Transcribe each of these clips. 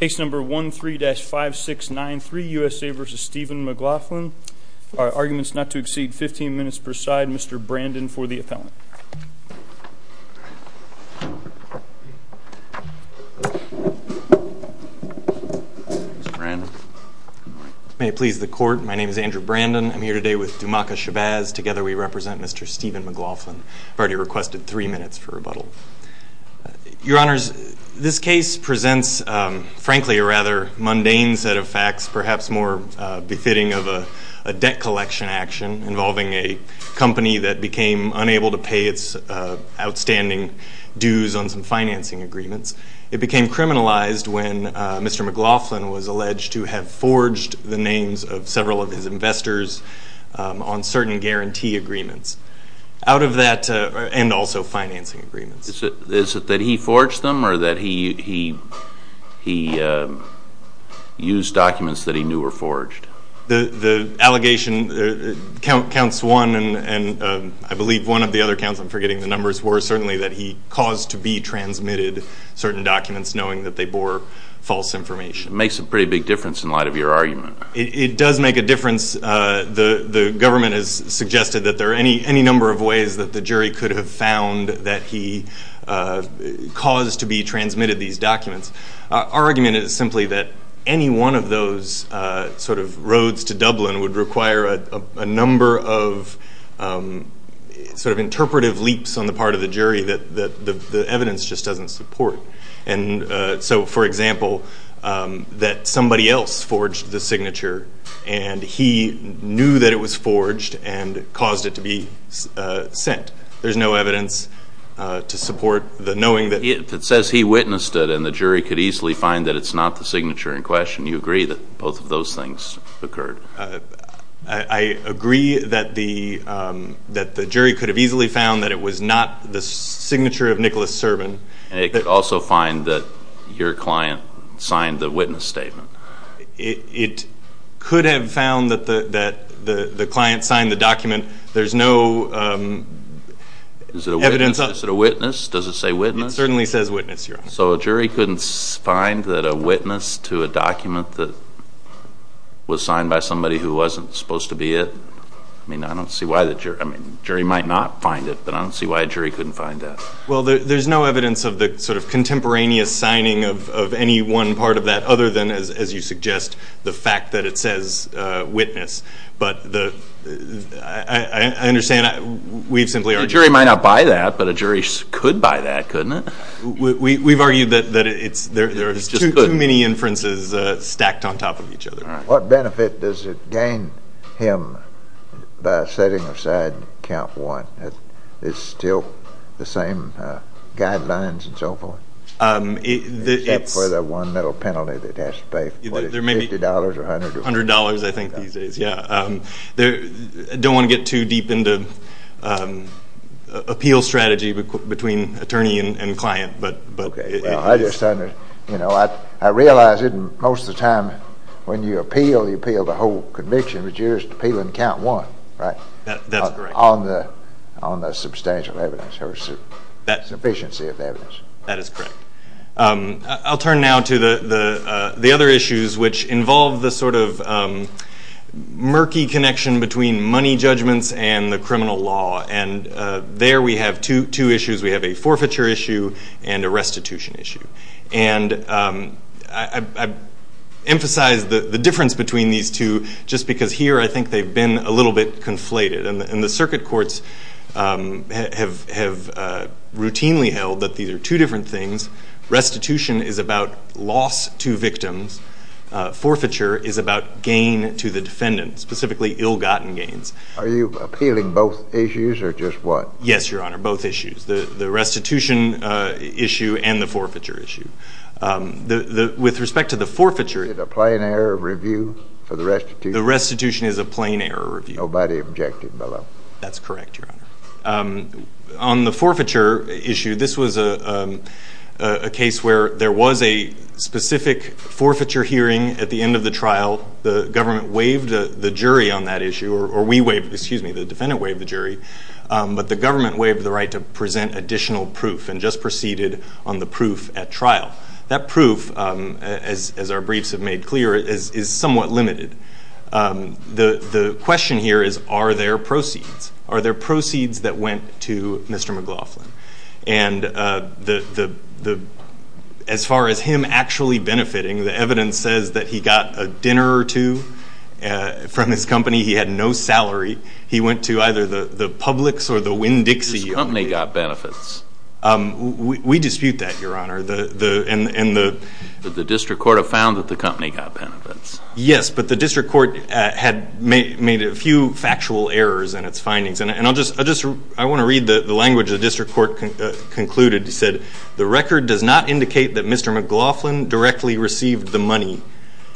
Case number 13-5693 U.S.A. v. Stephen McLaughlin, arguments not to exceed 15 minutes per side, Mr. Brandon for the appellant. Mr. Brandon. Good morning. May it please the court, my name is Andrew Brandon, I'm here today with Dumaca Shabazz, together we represent Mr. Stephen McLaughlin. I've already requested three minutes for rebuttal. Your honors, this case presents, frankly, a rather mundane set of facts, perhaps more befitting of a debt collection action involving a company that became unable to pay its outstanding dues on some financing agreements. It became criminalized when Mr. McLaughlin was alleged to have forged the names of several of his investors on certain guarantee agreements. Out of that, and also financing agreements. Mr. Shabazz. Is it that he forged them or that he used documents that he knew were forged? Mr. McLaughlin. The allegation counts one, and I believe one of the other counts, I'm forgetting the numbers, were certainly that he caused to be transmitted certain documents knowing that they bore false information. Mr. Shabazz. It makes a pretty big difference in light of your argument. Mr. McLaughlin. It does make a difference. The government has suggested that there are any number of ways that the jury could have found that he caused to be transmitted these documents. Our argument is simply that any one of those sort of roads to Dublin would require a number of sort of interpretive leaps on the part of the jury that the evidence just doesn't support. And so, for example, that somebody else forged the signature and he knew that it was forged and caused it to be sent. There's no evidence to support the knowing that... Mr. Shabazz. If it says he witnessed it and the jury could easily find that it's not the signature in question, you agree that both of those things occurred? Mr. McLaughlin. I agree that the jury could have easily found that it was not the signature of Nicholas Servin. Mr. Shabazz. And it could also find that your client signed the witness statement. Mr. McLaughlin. It could have found that the client signed the document. There's no evidence... Mr. Shabazz. Is it a witness? Does it say witness? Mr. McLaughlin. It certainly says witness, Your Honor. Mr. Shabazz. So a jury couldn't find that a witness to a document that was signed by somebody who wasn't supposed to be it? I mean, I don't see why the jury... I mean, jury might not find it, but I don't see why a jury couldn't find that. Mr. McLaughlin. Well, there's no evidence of the sort of contemporaneous signing of any one part of that other than, as you suggest, the fact that it says witness. But I understand we've simply argued... A jury might not buy that, but a jury could buy that, couldn't it? We've argued that there's too many inferences stacked on top of each other. What benefit does it gain him by setting aside count one? It's still the same guidelines and so forth, except for the one little penalty that has to pay, whether it's $50 or $100 or whatever. Mr. Shabazz. There may be $100, I think, these days. Yeah. I don't want to get too deep into appeal strategy between attorney and client, but it is... Mr. McLaughlin. Okay. Well, I just understand. You know, I realize most of the time when you appeal, you appeal the whole conviction, but you're just appealing count one, right? Mr. Shabazz. That's correct. On the substantial evidence, or sufficiency of evidence. That is correct. I'll turn now to the other issues, which involve the sort of murky connection between money judgments and the criminal law. And there we have two issues. We have a forfeiture issue and a restitution issue. And I emphasize the difference between these two just because here I think they've been a little bit conflated. And the circuit courts have routinely held that these are two different things. Restitution is about loss to victims. Forfeiture is about gain to the defendant, specifically ill-gotten gains. Are you appealing both issues or just one? Yes, Your Honor. Both issues. The restitution issue and the forfeiture issue. With respect to the forfeiture... Is it a plain error review for the restitution? The restitution is a plain error review. Nobody objected below. That's correct, Your Honor. On the forfeiture issue, this was a case where there was a specific forfeiture hearing at the end of the trial. The government waived the jury on that issue, or we waived, excuse me, the defendant waived the jury. But the government waived the right to present additional proof and just proceeded on the proof at trial. That proof, as our briefs have made clear, is somewhat limited. The question here is, are there proceeds? Are there proceeds that went to Mr. McLaughlin? As far as him actually benefiting, the evidence says that he got a dinner or two from his company. He had no salary. He went to either the Publix or the Winn-Dixie. His company got benefits. We dispute that, Your Honor. The district court have found that the company got benefits. Yes, but the district court had made a few factual errors in its findings. I want to read the language the district court concluded. It said, the record does not indicate that Mr. McLaughlin directly received the money.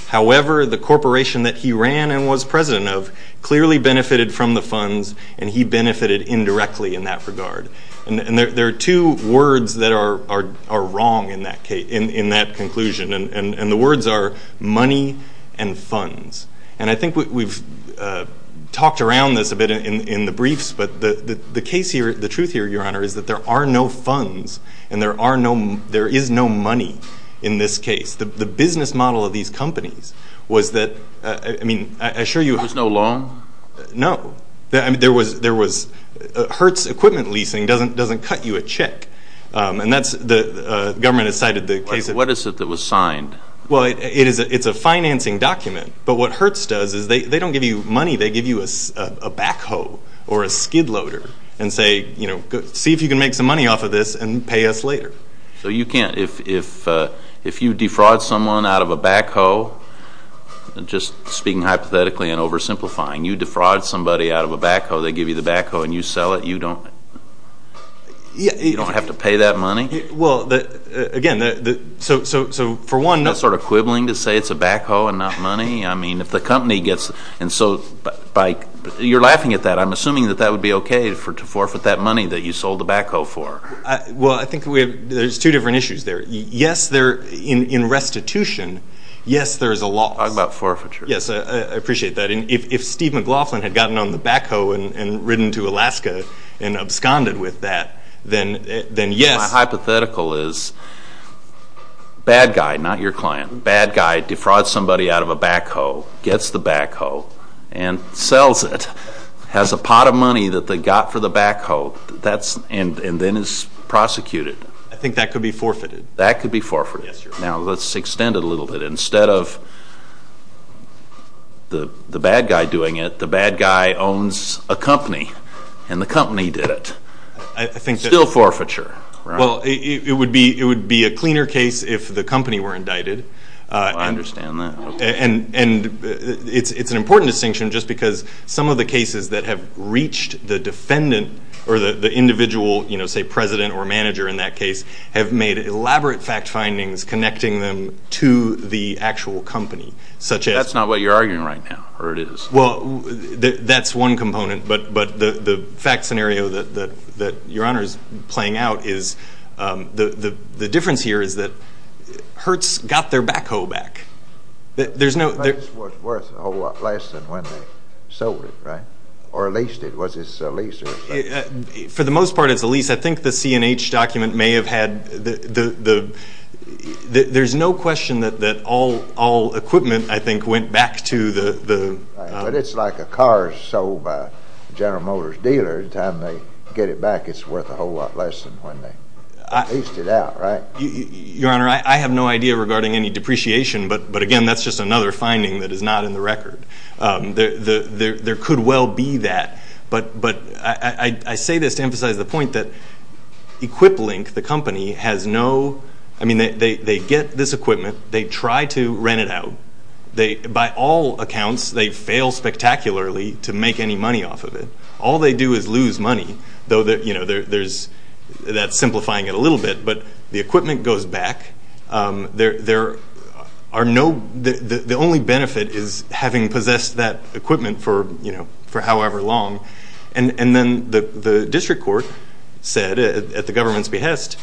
However, the corporation that he ran and was president of clearly benefited from the funds and he benefited indirectly in that regard. There are two words that are wrong in that conclusion. The words are money and funds. I think we've talked around this a bit in the briefs, but the truth here, Your Honor, is that there are no funds and there is no money in this case. The business model of these companies was that, I mean, I assure you- There was no loan? No. There was, Hertz Equipment Leasing doesn't cut you a check, and the government has cited the case of- What is it that was signed? Well, it's a financing document, but what Hertz does is they don't give you money. They give you a backhoe or a skid loader and say, see if you can make some money off of this and pay us later. You can't. If you defraud someone out of a backhoe, just speaking hypothetically and oversimplifying, you defraud somebody out of a backhoe, they give you the backhoe and you sell it, you don't have to pay that money? Well, again, so for one- Is that sort of quibbling to say it's a backhoe and not money? I mean, if the company gets- and so by- you're laughing at that. I'm assuming that that would be okay to forfeit that money that you sold the backhoe for. Well, I think there's two different issues there. Yes, in restitution, yes, there is a loss. Talk about forfeiture. Yes, I appreciate that. If Steve McLaughlin had gotten on the backhoe and ridden to Alaska and absconded with that, then yes- My hypothetical is bad guy, not your client, bad guy defrauds somebody out of a backhoe, gets the backhoe, and sells it, has a pot of money that they got for the backhoe, and then is prosecuted. I think that could be forfeited. That could be forfeited. Yes, Your Honor. Now, let's extend it a little bit. Instead of the bad guy doing it, the bad guy owns a company and the company did it. I think that- Well, it would be a cleaner case if the company were indicted. I understand that. It's an important distinction just because some of the cases that have reached the defendant or the individual, say, president or manager in that case, have made elaborate fact findings connecting them to the actual company, such as- That's not what you're arguing right now, or it is? Well, that's one component, but the fact scenario that Your Honor is playing out is, the difference here is that Hertz got their backhoe back. There's no- But it was worth a whole lot less than when they sold it, right? Or leased it. Was this a lease or- For the most part, it's a lease. I think the C&H document may have had- There's no question that all equipment, I think, went back to the- But it's like a car sold by a General Motors dealer. Anytime they get it back, it's worth a whole lot less than when they leased it out, right? Your Honor, I have no idea regarding any depreciation, but again, that's just another finding that is not in the record. There could well be that, but I say this to emphasize the point that EquipLink, the company, has no- I mean, they get this equipment. They try to rent it out. By all accounts, they fail spectacularly to make any money off of it. All they do is lose money, though that's simplifying it a little bit, but the equipment goes back. The only benefit is having possessed that equipment for however long, and then the district court said, at the government's behest,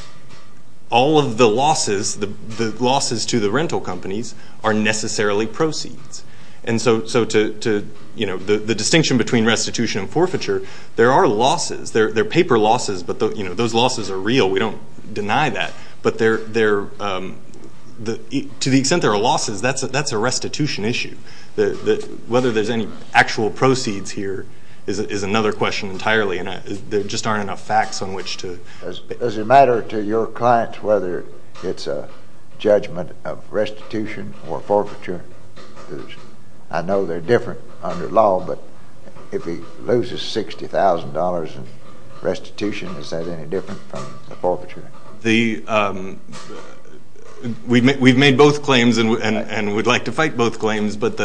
all of the losses, the losses to the rental companies are necessarily proceeds. The distinction between restitution and forfeiture, there are losses. They're paper losses, but those losses are real. We don't deny that, but to the extent there are losses, that's a restitution issue. Whether there's any actual proceeds here is another question entirely, and there just aren't enough facts on which to- Does it matter to your clients whether it's a judgment of restitution or forfeiture? I know they're different under law, but if he loses $60,000 in restitution, is that any different from the forfeiture? We've made both claims, and we'd like to fight both claims, but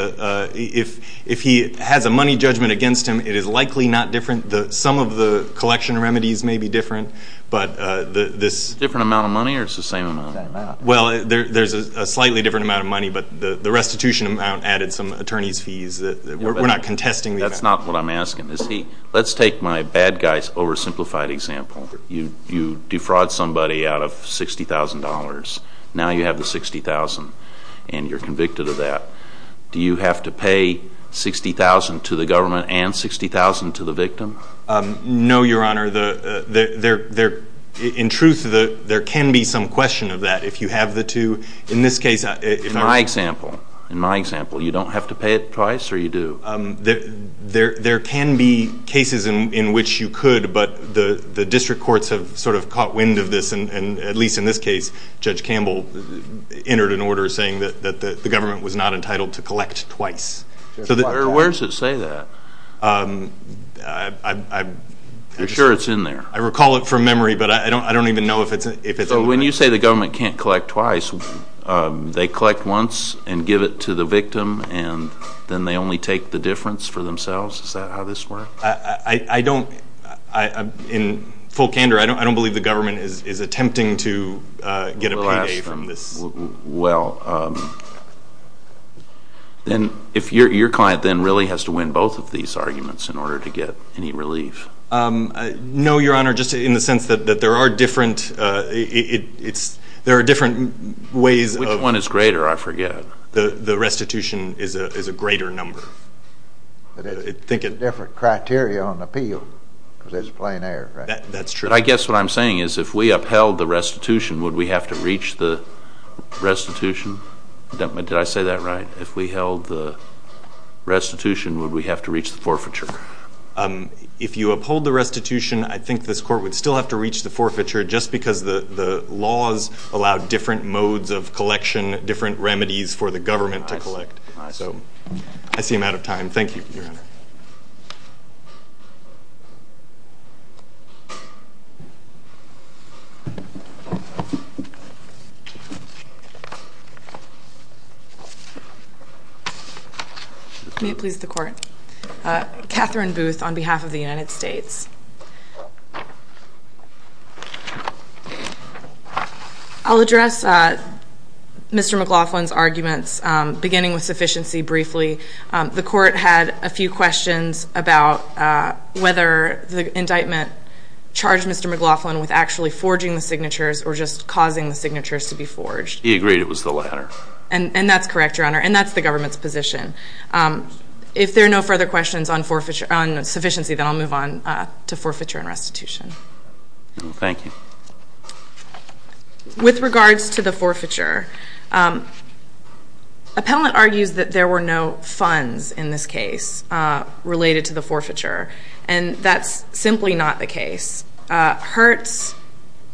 if he has a money judgment against him, it is likely not different. Some of the collection remedies may be different, but this- Different amount of money, or it's the same amount? Well, there's a slightly different amount of money, but the restitution amount added some attorney's fees. We're not contesting the amount. That's not what I'm asking. Let's take my bad guy's oversimplified example. You defraud somebody out of $60,000. Now you have the $60,000, and you're convicted of that. Do you have to pay $60,000 to the government and $60,000 to the victim? No, Your Honor. In truth, there can be some question of that if you have the two. In this case- In my example. In my example. You don't have to pay it twice, or you do? There can be cases in which you could, but the district courts have sort of caught wind of this, and at least in this case, Judge Campbell entered an order saying that the victim is entitled to collect twice. Where does it say that? I'm sure it's in there. I recall it from memory, but I don't even know if it's in there. When you say the government can't collect twice, they collect once and give it to the victim, and then they only take the difference for themselves? Is that how this works? In full candor, I don't believe the government is attempting to get a payday from this. Well, then your client then really has to win both of these arguments in order to get any relief. No, Your Honor, just in the sense that there are different ways of- Which one is greater? I forget. The restitution is a greater number. But it's a different criteria on appeal, because it's plain air, right? That's true. But I guess what I'm saying is if we upheld the restitution, would we have to reach the restitution? Did I say that right? If we held the restitution, would we have to reach the forfeiture? If you uphold the restitution, I think this court would still have to reach the forfeiture just because the laws allow different modes of collection, different remedies for the government to collect. I see. I see. I'm out of time. May it please the Court. Catherine Booth on behalf of the United States. I'll address Mr. McLaughlin's arguments, beginning with sufficiency, briefly. The court had a few questions about whether the indictment charged Mr. McLaughlin with actually forging the signatures or just causing the signatures to be forged. He agreed it was the latter. And that's correct, Your Honor. And that's the government's position. If there are no further questions on sufficiency, then I'll move on to forfeiture and restitution. Thank you. With regards to the forfeiture, appellant argues that there were no funds in this case related to the forfeiture. And that's simply not the case. Hertz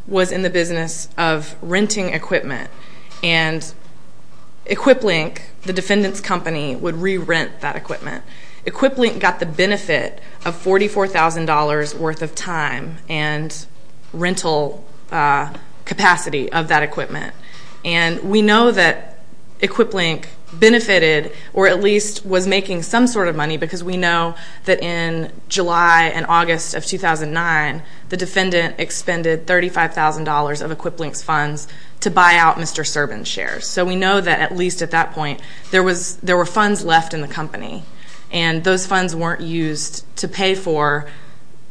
was in the business of renting equipment. And EquipLink, the defendant's company, would re-rent that equipment. EquipLink got the benefit of $44,000 worth of time and rental capacity of that equipment. And we know that EquipLink benefited or at least was making some sort of money because we know that in July and August of 2009, the defendant expended $35,000 of EquipLink's funds to buy out Mr. Serban's shares. So we know that at least at that point, there were funds left in the company. And those funds weren't used to pay for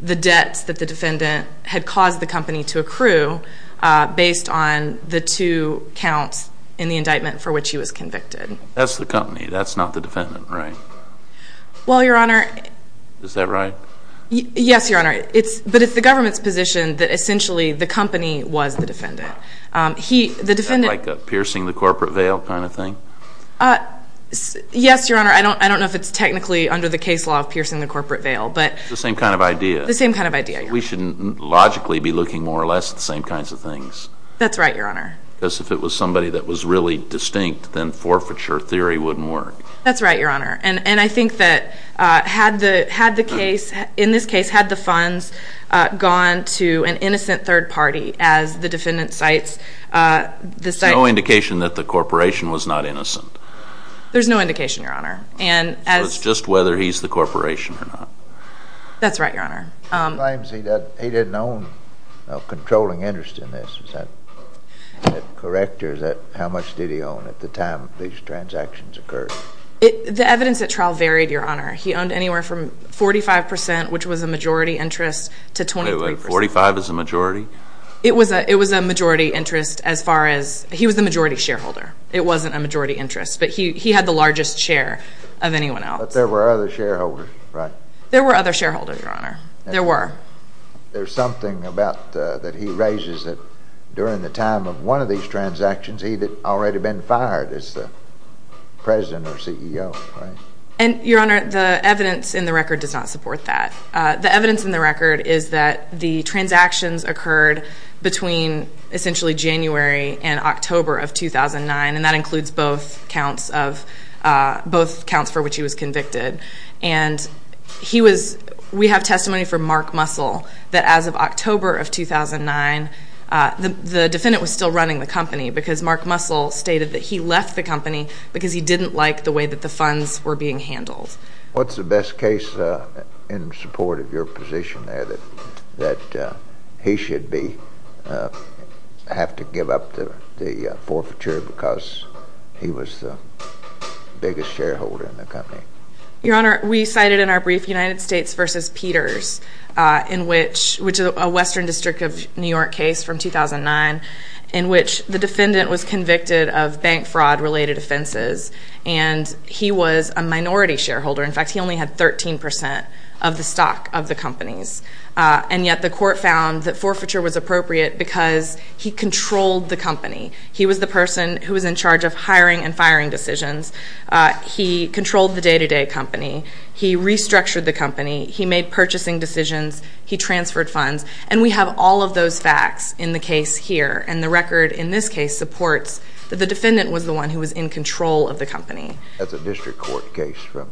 the debts that the defendant had caused the company to accrue based on the two counts in the indictment for which he was convicted. That's the company. That's not the defendant, right? Well, Your Honor. Is that right? Yes, Your Honor. But it's the government's position that essentially the company was the defendant. Is that like a piercing the corporate veil kind of thing? Yes, Your Honor. I don't know if it's technically under the case law of piercing the corporate veil. It's the same kind of idea. The same kind of idea, Your Honor. We shouldn't logically be looking more or less at the same kinds of things. That's right, Your Honor. Because if it was somebody that was really distinct, then forfeiture theory wouldn't work. That's right, Your Honor. And I think that had the case, in this case, had the funds gone to an innocent third party, as the defendant cites, the site... There's no indication that the corporation was not innocent. There's no indication, Your Honor. It's just whether he's the corporation or not. That's right, Your Honor. He claims he didn't own a controlling interest in this. Is that correct? Or how much did he own at the time these transactions occurred? The evidence at trial varied, Your Honor. He owned anywhere from 45 percent, which was a majority interest, to 23 percent. Wait, wait. 45 is a majority? It was a majority interest as far as... He was the majority shareholder. It wasn't a majority interest. But he had the largest share of anyone else. But there were other shareholders, right? There were other shareholders, Your Honor. There were. There's something that he raises that during the time of one of these transactions, he had already been fired as the president or CEO, right? And, Your Honor, the evidence in the record does not support that. The evidence in the record is that the transactions occurred between essentially January and October of 2009, and that includes both counts for which he was convicted. And he was... We have testimony from Mark Muscle that as of October of 2009, the defendant was still running the company because Mark Muscle stated that he left the company because he didn't like the way that the funds were being handled. What's the best case in support of your position there that he should have to give up the forfeiture because he was the biggest shareholder in the company? Your Honor, we cited in our brief United States v. Peters, which is a Western District of New York case from 2009, in which the defendant was convicted of bank fraud-related offenses, and he was a minority shareholder. In fact, he only had 13% of the stock of the companies. And yet the court found that forfeiture was appropriate because he controlled the company. He was the person who was in charge of hiring and firing decisions. He controlled the day-to-day company. He restructured the company. He made purchasing decisions. He transferred funds. And we have all of those facts in the case here. And the record in this case supports that the defendant was the one who was in control of the company. That's a district court case from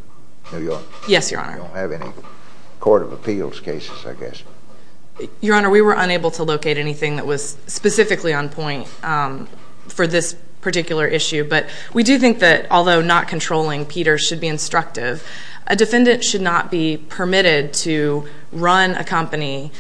New York? Yes, Your Honor. We don't have any court of appeals cases, I guess. Your Honor, we were unable to locate anything that was specifically on point for this particular issue. But we do think that although not controlling Peters should be instructive, a defendant should not be permitted to run a company,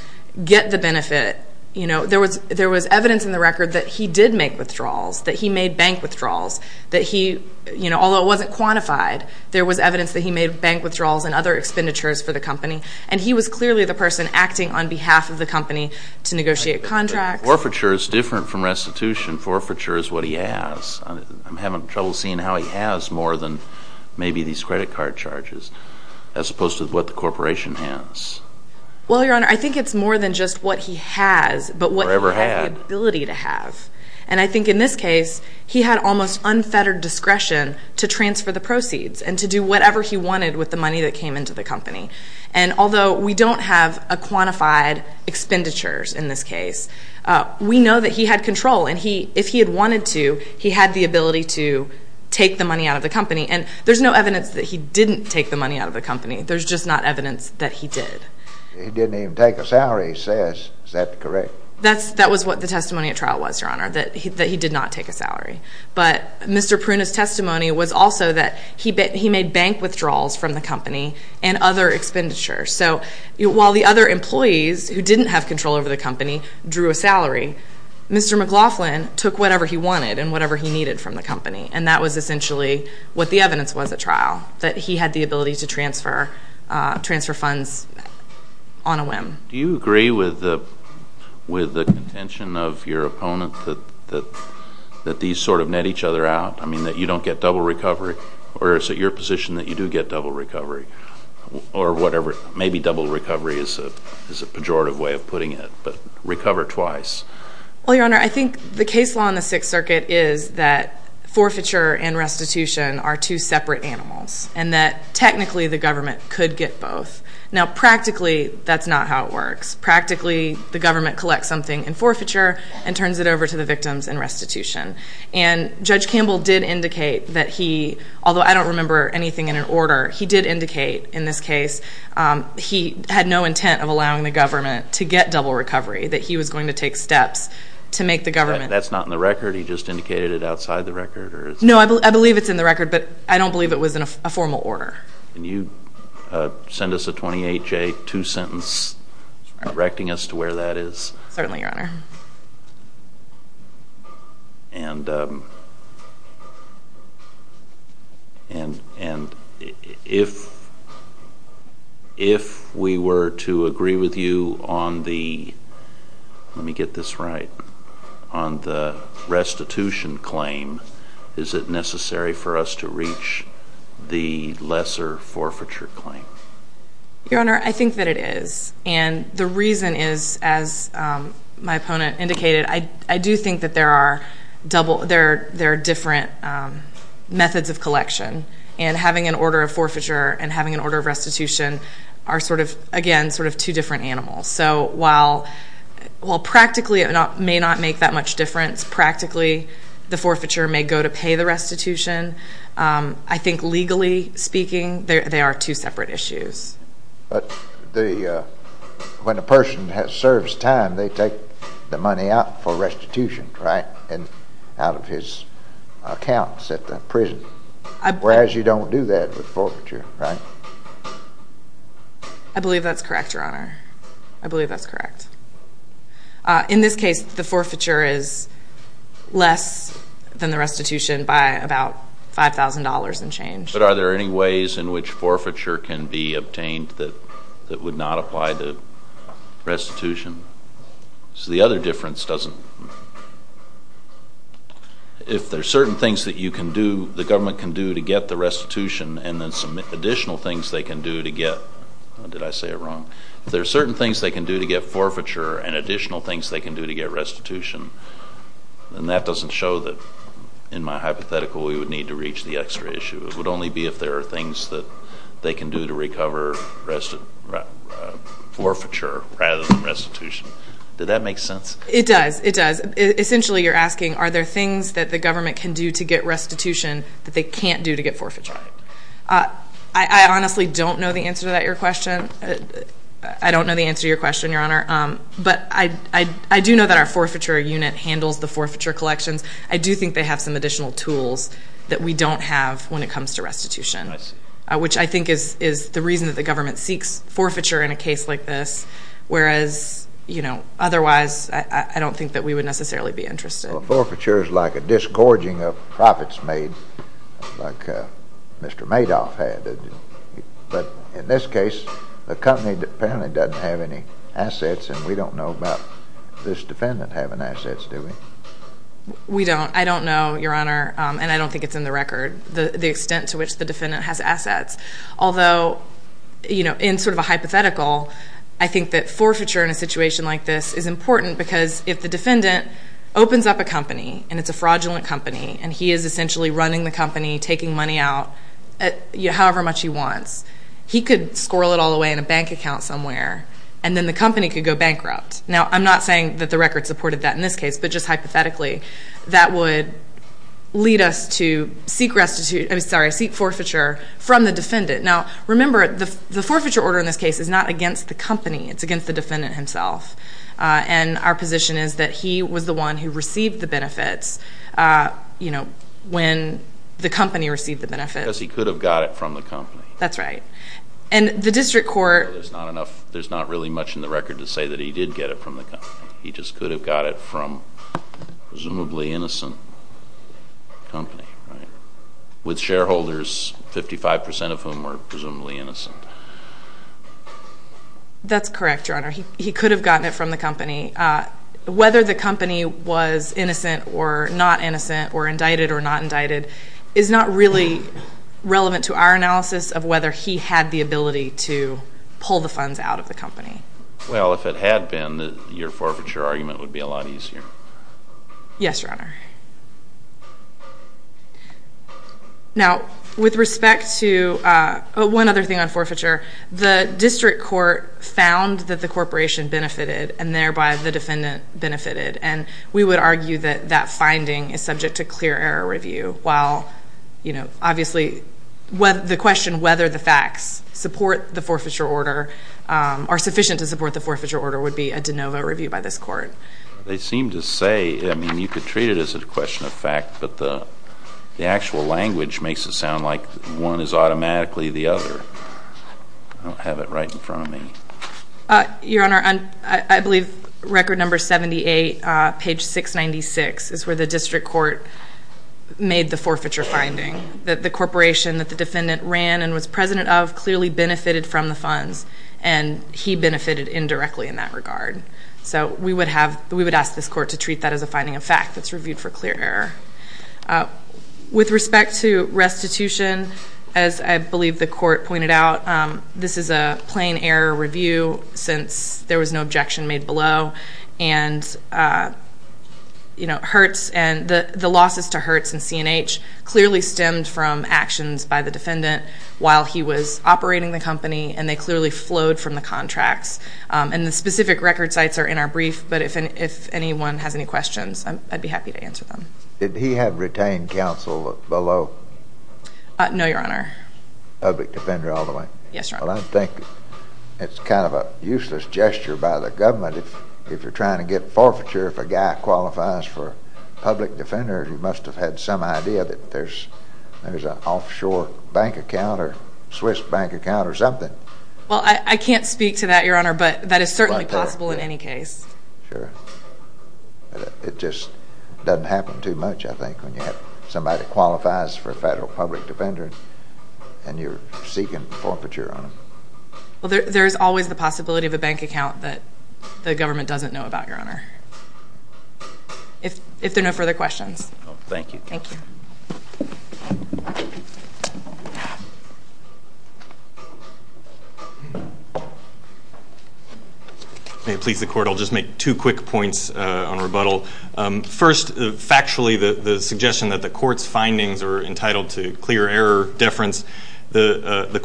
get the benefit. You know, there was evidence in the record that he did make withdrawals, that he made bank withdrawals, that he, you know, although it wasn't quantified, there was evidence that he made bank withdrawals and other expenditures for the company. And he was clearly the person acting on behalf of the company to negotiate contracts. Forfeiture is different from restitution. Forfeiture is what he has. I'm having trouble seeing how he has more than maybe these credit card charges as opposed to what the corporation has. Well, Your Honor, I think it's more than just what he has. Or ever had. But what he had the ability to have. And I think in this case, he had almost unfettered discretion to transfer the proceeds and to do whatever he wanted with the money that came into the company. And although we don't have a quantified expenditures in this case, we know that he had control. And if he had wanted to, he had the ability to take the money out of the company. And there's no evidence that he didn't take the money out of the company. There's just not evidence that he did. He didn't even take a salary, he says. Is that correct? That was what the testimony at trial was, Your Honor, that he did not take a salary. But Mr. Pruna's testimony was also that he made bank withdrawals from the company and other expenditures. So while the other employees who didn't have control over the company drew a salary, Mr. McLaughlin took whatever he wanted and whatever he needed from the company. And that was essentially what the evidence was at trial, that he had the ability to transfer funds on a whim. Do you agree with the contention of your opponent that these sort of net each other out? I mean, that you don't get double recovery? Or is it your position that you do get double recovery? Or whatever, maybe double recovery is a pejorative way of putting it. Well, Your Honor, I think the case law in the Sixth Circuit is that forfeiture and restitution are two separate animals, and that technically the government could get both. Now, practically, that's not how it works. Practically, the government collects something in forfeiture and turns it over to the victims in restitution. And Judge Campbell did indicate that he, although I don't remember anything in an order, he did indicate in this case he had no intent of allowing the government to get double recovery, that he was going to take steps to make the government. That's not in the record? He just indicated it outside the record? No, I believe it's in the record, but I don't believe it was in a formal order. Can you send us a 28-J, two sentence, directing us to where that is? Certainly, Your Honor. And if we were to agree with you on the restitution claim, is it necessary for us to reach the lesser forfeiture claim? Your Honor, I think that it is. And the reason is, as my opponent indicated, I do think that there are different methods of collection, and having an order of forfeiture and having an order of restitution are sort of, again, sort of two different animals. So while practically it may not make that much difference, practically the forfeiture may go to pay the restitution, I think legally speaking they are two separate issues. But when a person serves time, they take the money out for restitution, right, out of his accounts at the prison. Whereas you don't do that with forfeiture, right? I believe that's correct, Your Honor. I believe that's correct. In this case, the forfeiture is less than the restitution by about $5,000 and change. But are there any ways in which forfeiture can be obtained that would not apply to restitution? So the other difference doesn't... If there are certain things that you can do, the government can do to get the restitution, and then some additional things they can do to get... Did I say it wrong? If there are certain things they can do to get forfeiture and additional things they can do to get restitution, then that doesn't show that, in my hypothetical, we would need to reach the extra issue. It would only be if there are things that they can do to recover forfeiture rather than restitution. Did that make sense? It does. It does. Essentially, you're asking are there things that the government can do to get restitution that they can't do to get forfeiture. Right. I honestly don't know the answer to that, Your Question. I don't know the answer to your question, Your Honor. But I do know that our forfeiture unit handles the forfeiture collections. I do think they have some additional tools that we don't have when it comes to restitution. I see. Which I think is the reason that the government seeks forfeiture in a case like this, whereas, you know, otherwise I don't think that we would necessarily be interested. Well, forfeiture is like a disgorging of profits made, like Mr. Madoff had. But in this case, the company apparently doesn't have any assets, and we don't know about this defendant having assets, do we? We don't. I don't know, Your Honor, and I don't think it's in the record, the extent to which the defendant has assets. Although, you know, in sort of a hypothetical, I think that forfeiture in a situation like this is important because if the defendant opens up a company, and it's a fraudulent company, and he is essentially running the company, taking money out however much he wants, he could squirrel it all away in a bank account somewhere, and then the company could go bankrupt. Now, I'm not saying that the record supported that in this case, but just hypothetically, that would lead us to seek forfeiture from the defendant. Now, remember, the forfeiture order in this case is not against the company. It's against the defendant himself. And our position is that he was the one who received the benefits, you know, when the company received the benefits. Because he could have got it from the company. That's right. There's not really much in the record to say that he did get it from the company. He just could have got it from a presumably innocent company, right, with shareholders, 55 percent of whom were presumably innocent. That's correct, Your Honor. He could have gotten it from the company. Whether the company was innocent or not innocent or indicted or not indicted is not really relevant to our analysis of whether he had the ability to pull the funds out of the company. Well, if it had been, your forfeiture argument would be a lot easier. Yes, Your Honor. Now, with respect to one other thing on forfeiture, the district court found that the corporation benefited and thereby the defendant benefited. And we would argue that that finding is subject to clear error review while, you know, obviously the question whether the facts support the forfeiture order or are sufficient to support the forfeiture order would be a de novo review by this court. They seem to say, I mean, you could treat it as a question of fact, but the actual language makes it sound like one is automatically the other. I don't have it right in front of me. Your Honor, I believe record number 78, page 696, is where the district court made the forfeiture finding, that the corporation that the defendant ran and was president of clearly benefited from the funds and he benefited indirectly in that regard. So we would ask this court to treat that as a finding of fact that's reviewed for clear error. With respect to restitution, as I believe the court pointed out, this is a plain error review since there was no objection made below. And, you know, Hertz and the losses to Hertz and C&H clearly stemmed from actions by the defendant while he was operating the company and they clearly flowed from the contracts. And the specific record sites are in our brief, but if anyone has any questions, I'd be happy to answer them. Did he have retained counsel below? No, Your Honor. Public defender all the way? Yes, Your Honor. Well, I think it's kind of a useless gesture by the government if you're trying to get forfeiture if a guy qualifies for public defender. He must have had some idea that there's an offshore bank account or Swiss bank account or something. Well, I can't speak to that, Your Honor, but that is certainly possible in any case. Sure. It just doesn't happen too much, I think, when you have somebody that qualifies for a federal public defender and you're seeking forfeiture on them. Well, there is always the possibility of a bank account that the government doesn't know about, Your Honor. If there are no further questions. Thank you. Thank you. May it please the Court. I'll just make two quick points on rebuttal. First, factually, the suggestion that the Court's findings are entitled to clear error deference. The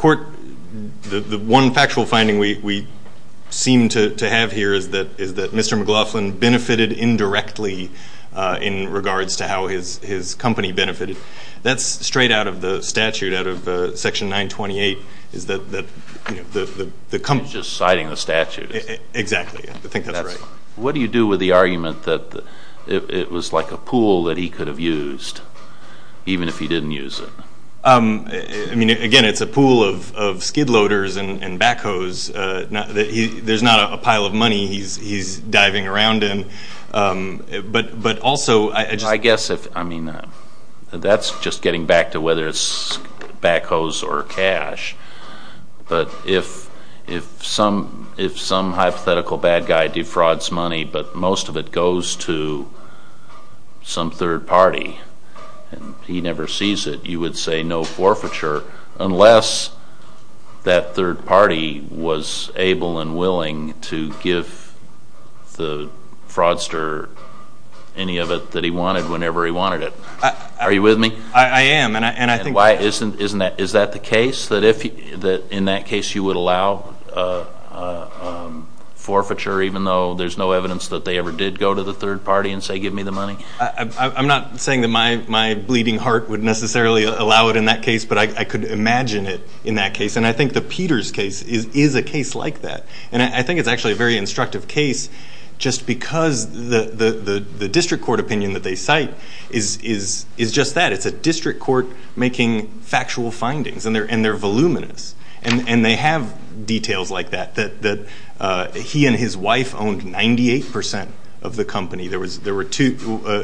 one factual finding we seem to have here is that Mr. McLaughlin benefited indirectly in regards to how his company benefited. That's straight out of the statute, out of Section 928. He's just citing the statute. Exactly. I think that's right. What do you do with the argument that it was like a pool that he could have used even if he didn't use it? I mean, again, it's a pool of skid loaders and backhoes. There's not a pile of money he's diving around in. But also, I just... I guess if, I mean, that's just getting back to whether it's backhoes or cash. But if some hypothetical bad guy defrauds money, but most of it goes to some third party, and he never sees it, you would say no forfeiture unless that third party was able and willing to give the fraudster any of it that he wanted whenever he wanted it. Are you with me? I am, and I think... Is that the case, that in that case you would allow forfeiture even though there's no evidence that they ever did go to the third party and say give me the money? I'm not saying that my bleeding heart would necessarily allow it in that case, but I could imagine it in that case, and I think the Peters case is a case like that. And I think it's actually a very instructive case just because the district court opinion that they cite is just that. It's a district court making factual findings, and they're voluminous, and they have details like that, that he and his wife owned 98% of the company. There were two...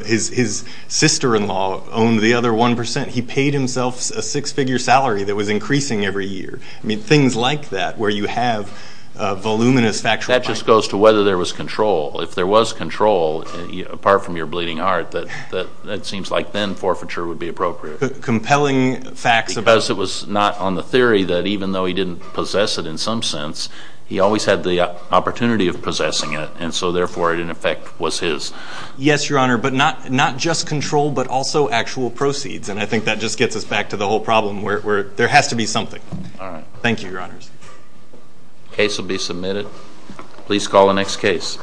His sister-in-law owned the other 1%. He paid himself a six-figure salary that was increasing every year. I mean, things like that where you have voluminous factual... That just goes to whether there was control. If there was control, apart from your bleeding heart, that seems like then forfeiture would be appropriate. Compelling facts about... Because it was not on the theory that even though he didn't possess it in some sense, he always had the opportunity of possessing it, and so therefore it, in effect, was his. Yes, Your Honor, but not just control but also actual proceeds, and I think that just gets us back to the whole problem where there has to be something. All right. Thank you, Your Honors. Case will be submitted. Please call the next case.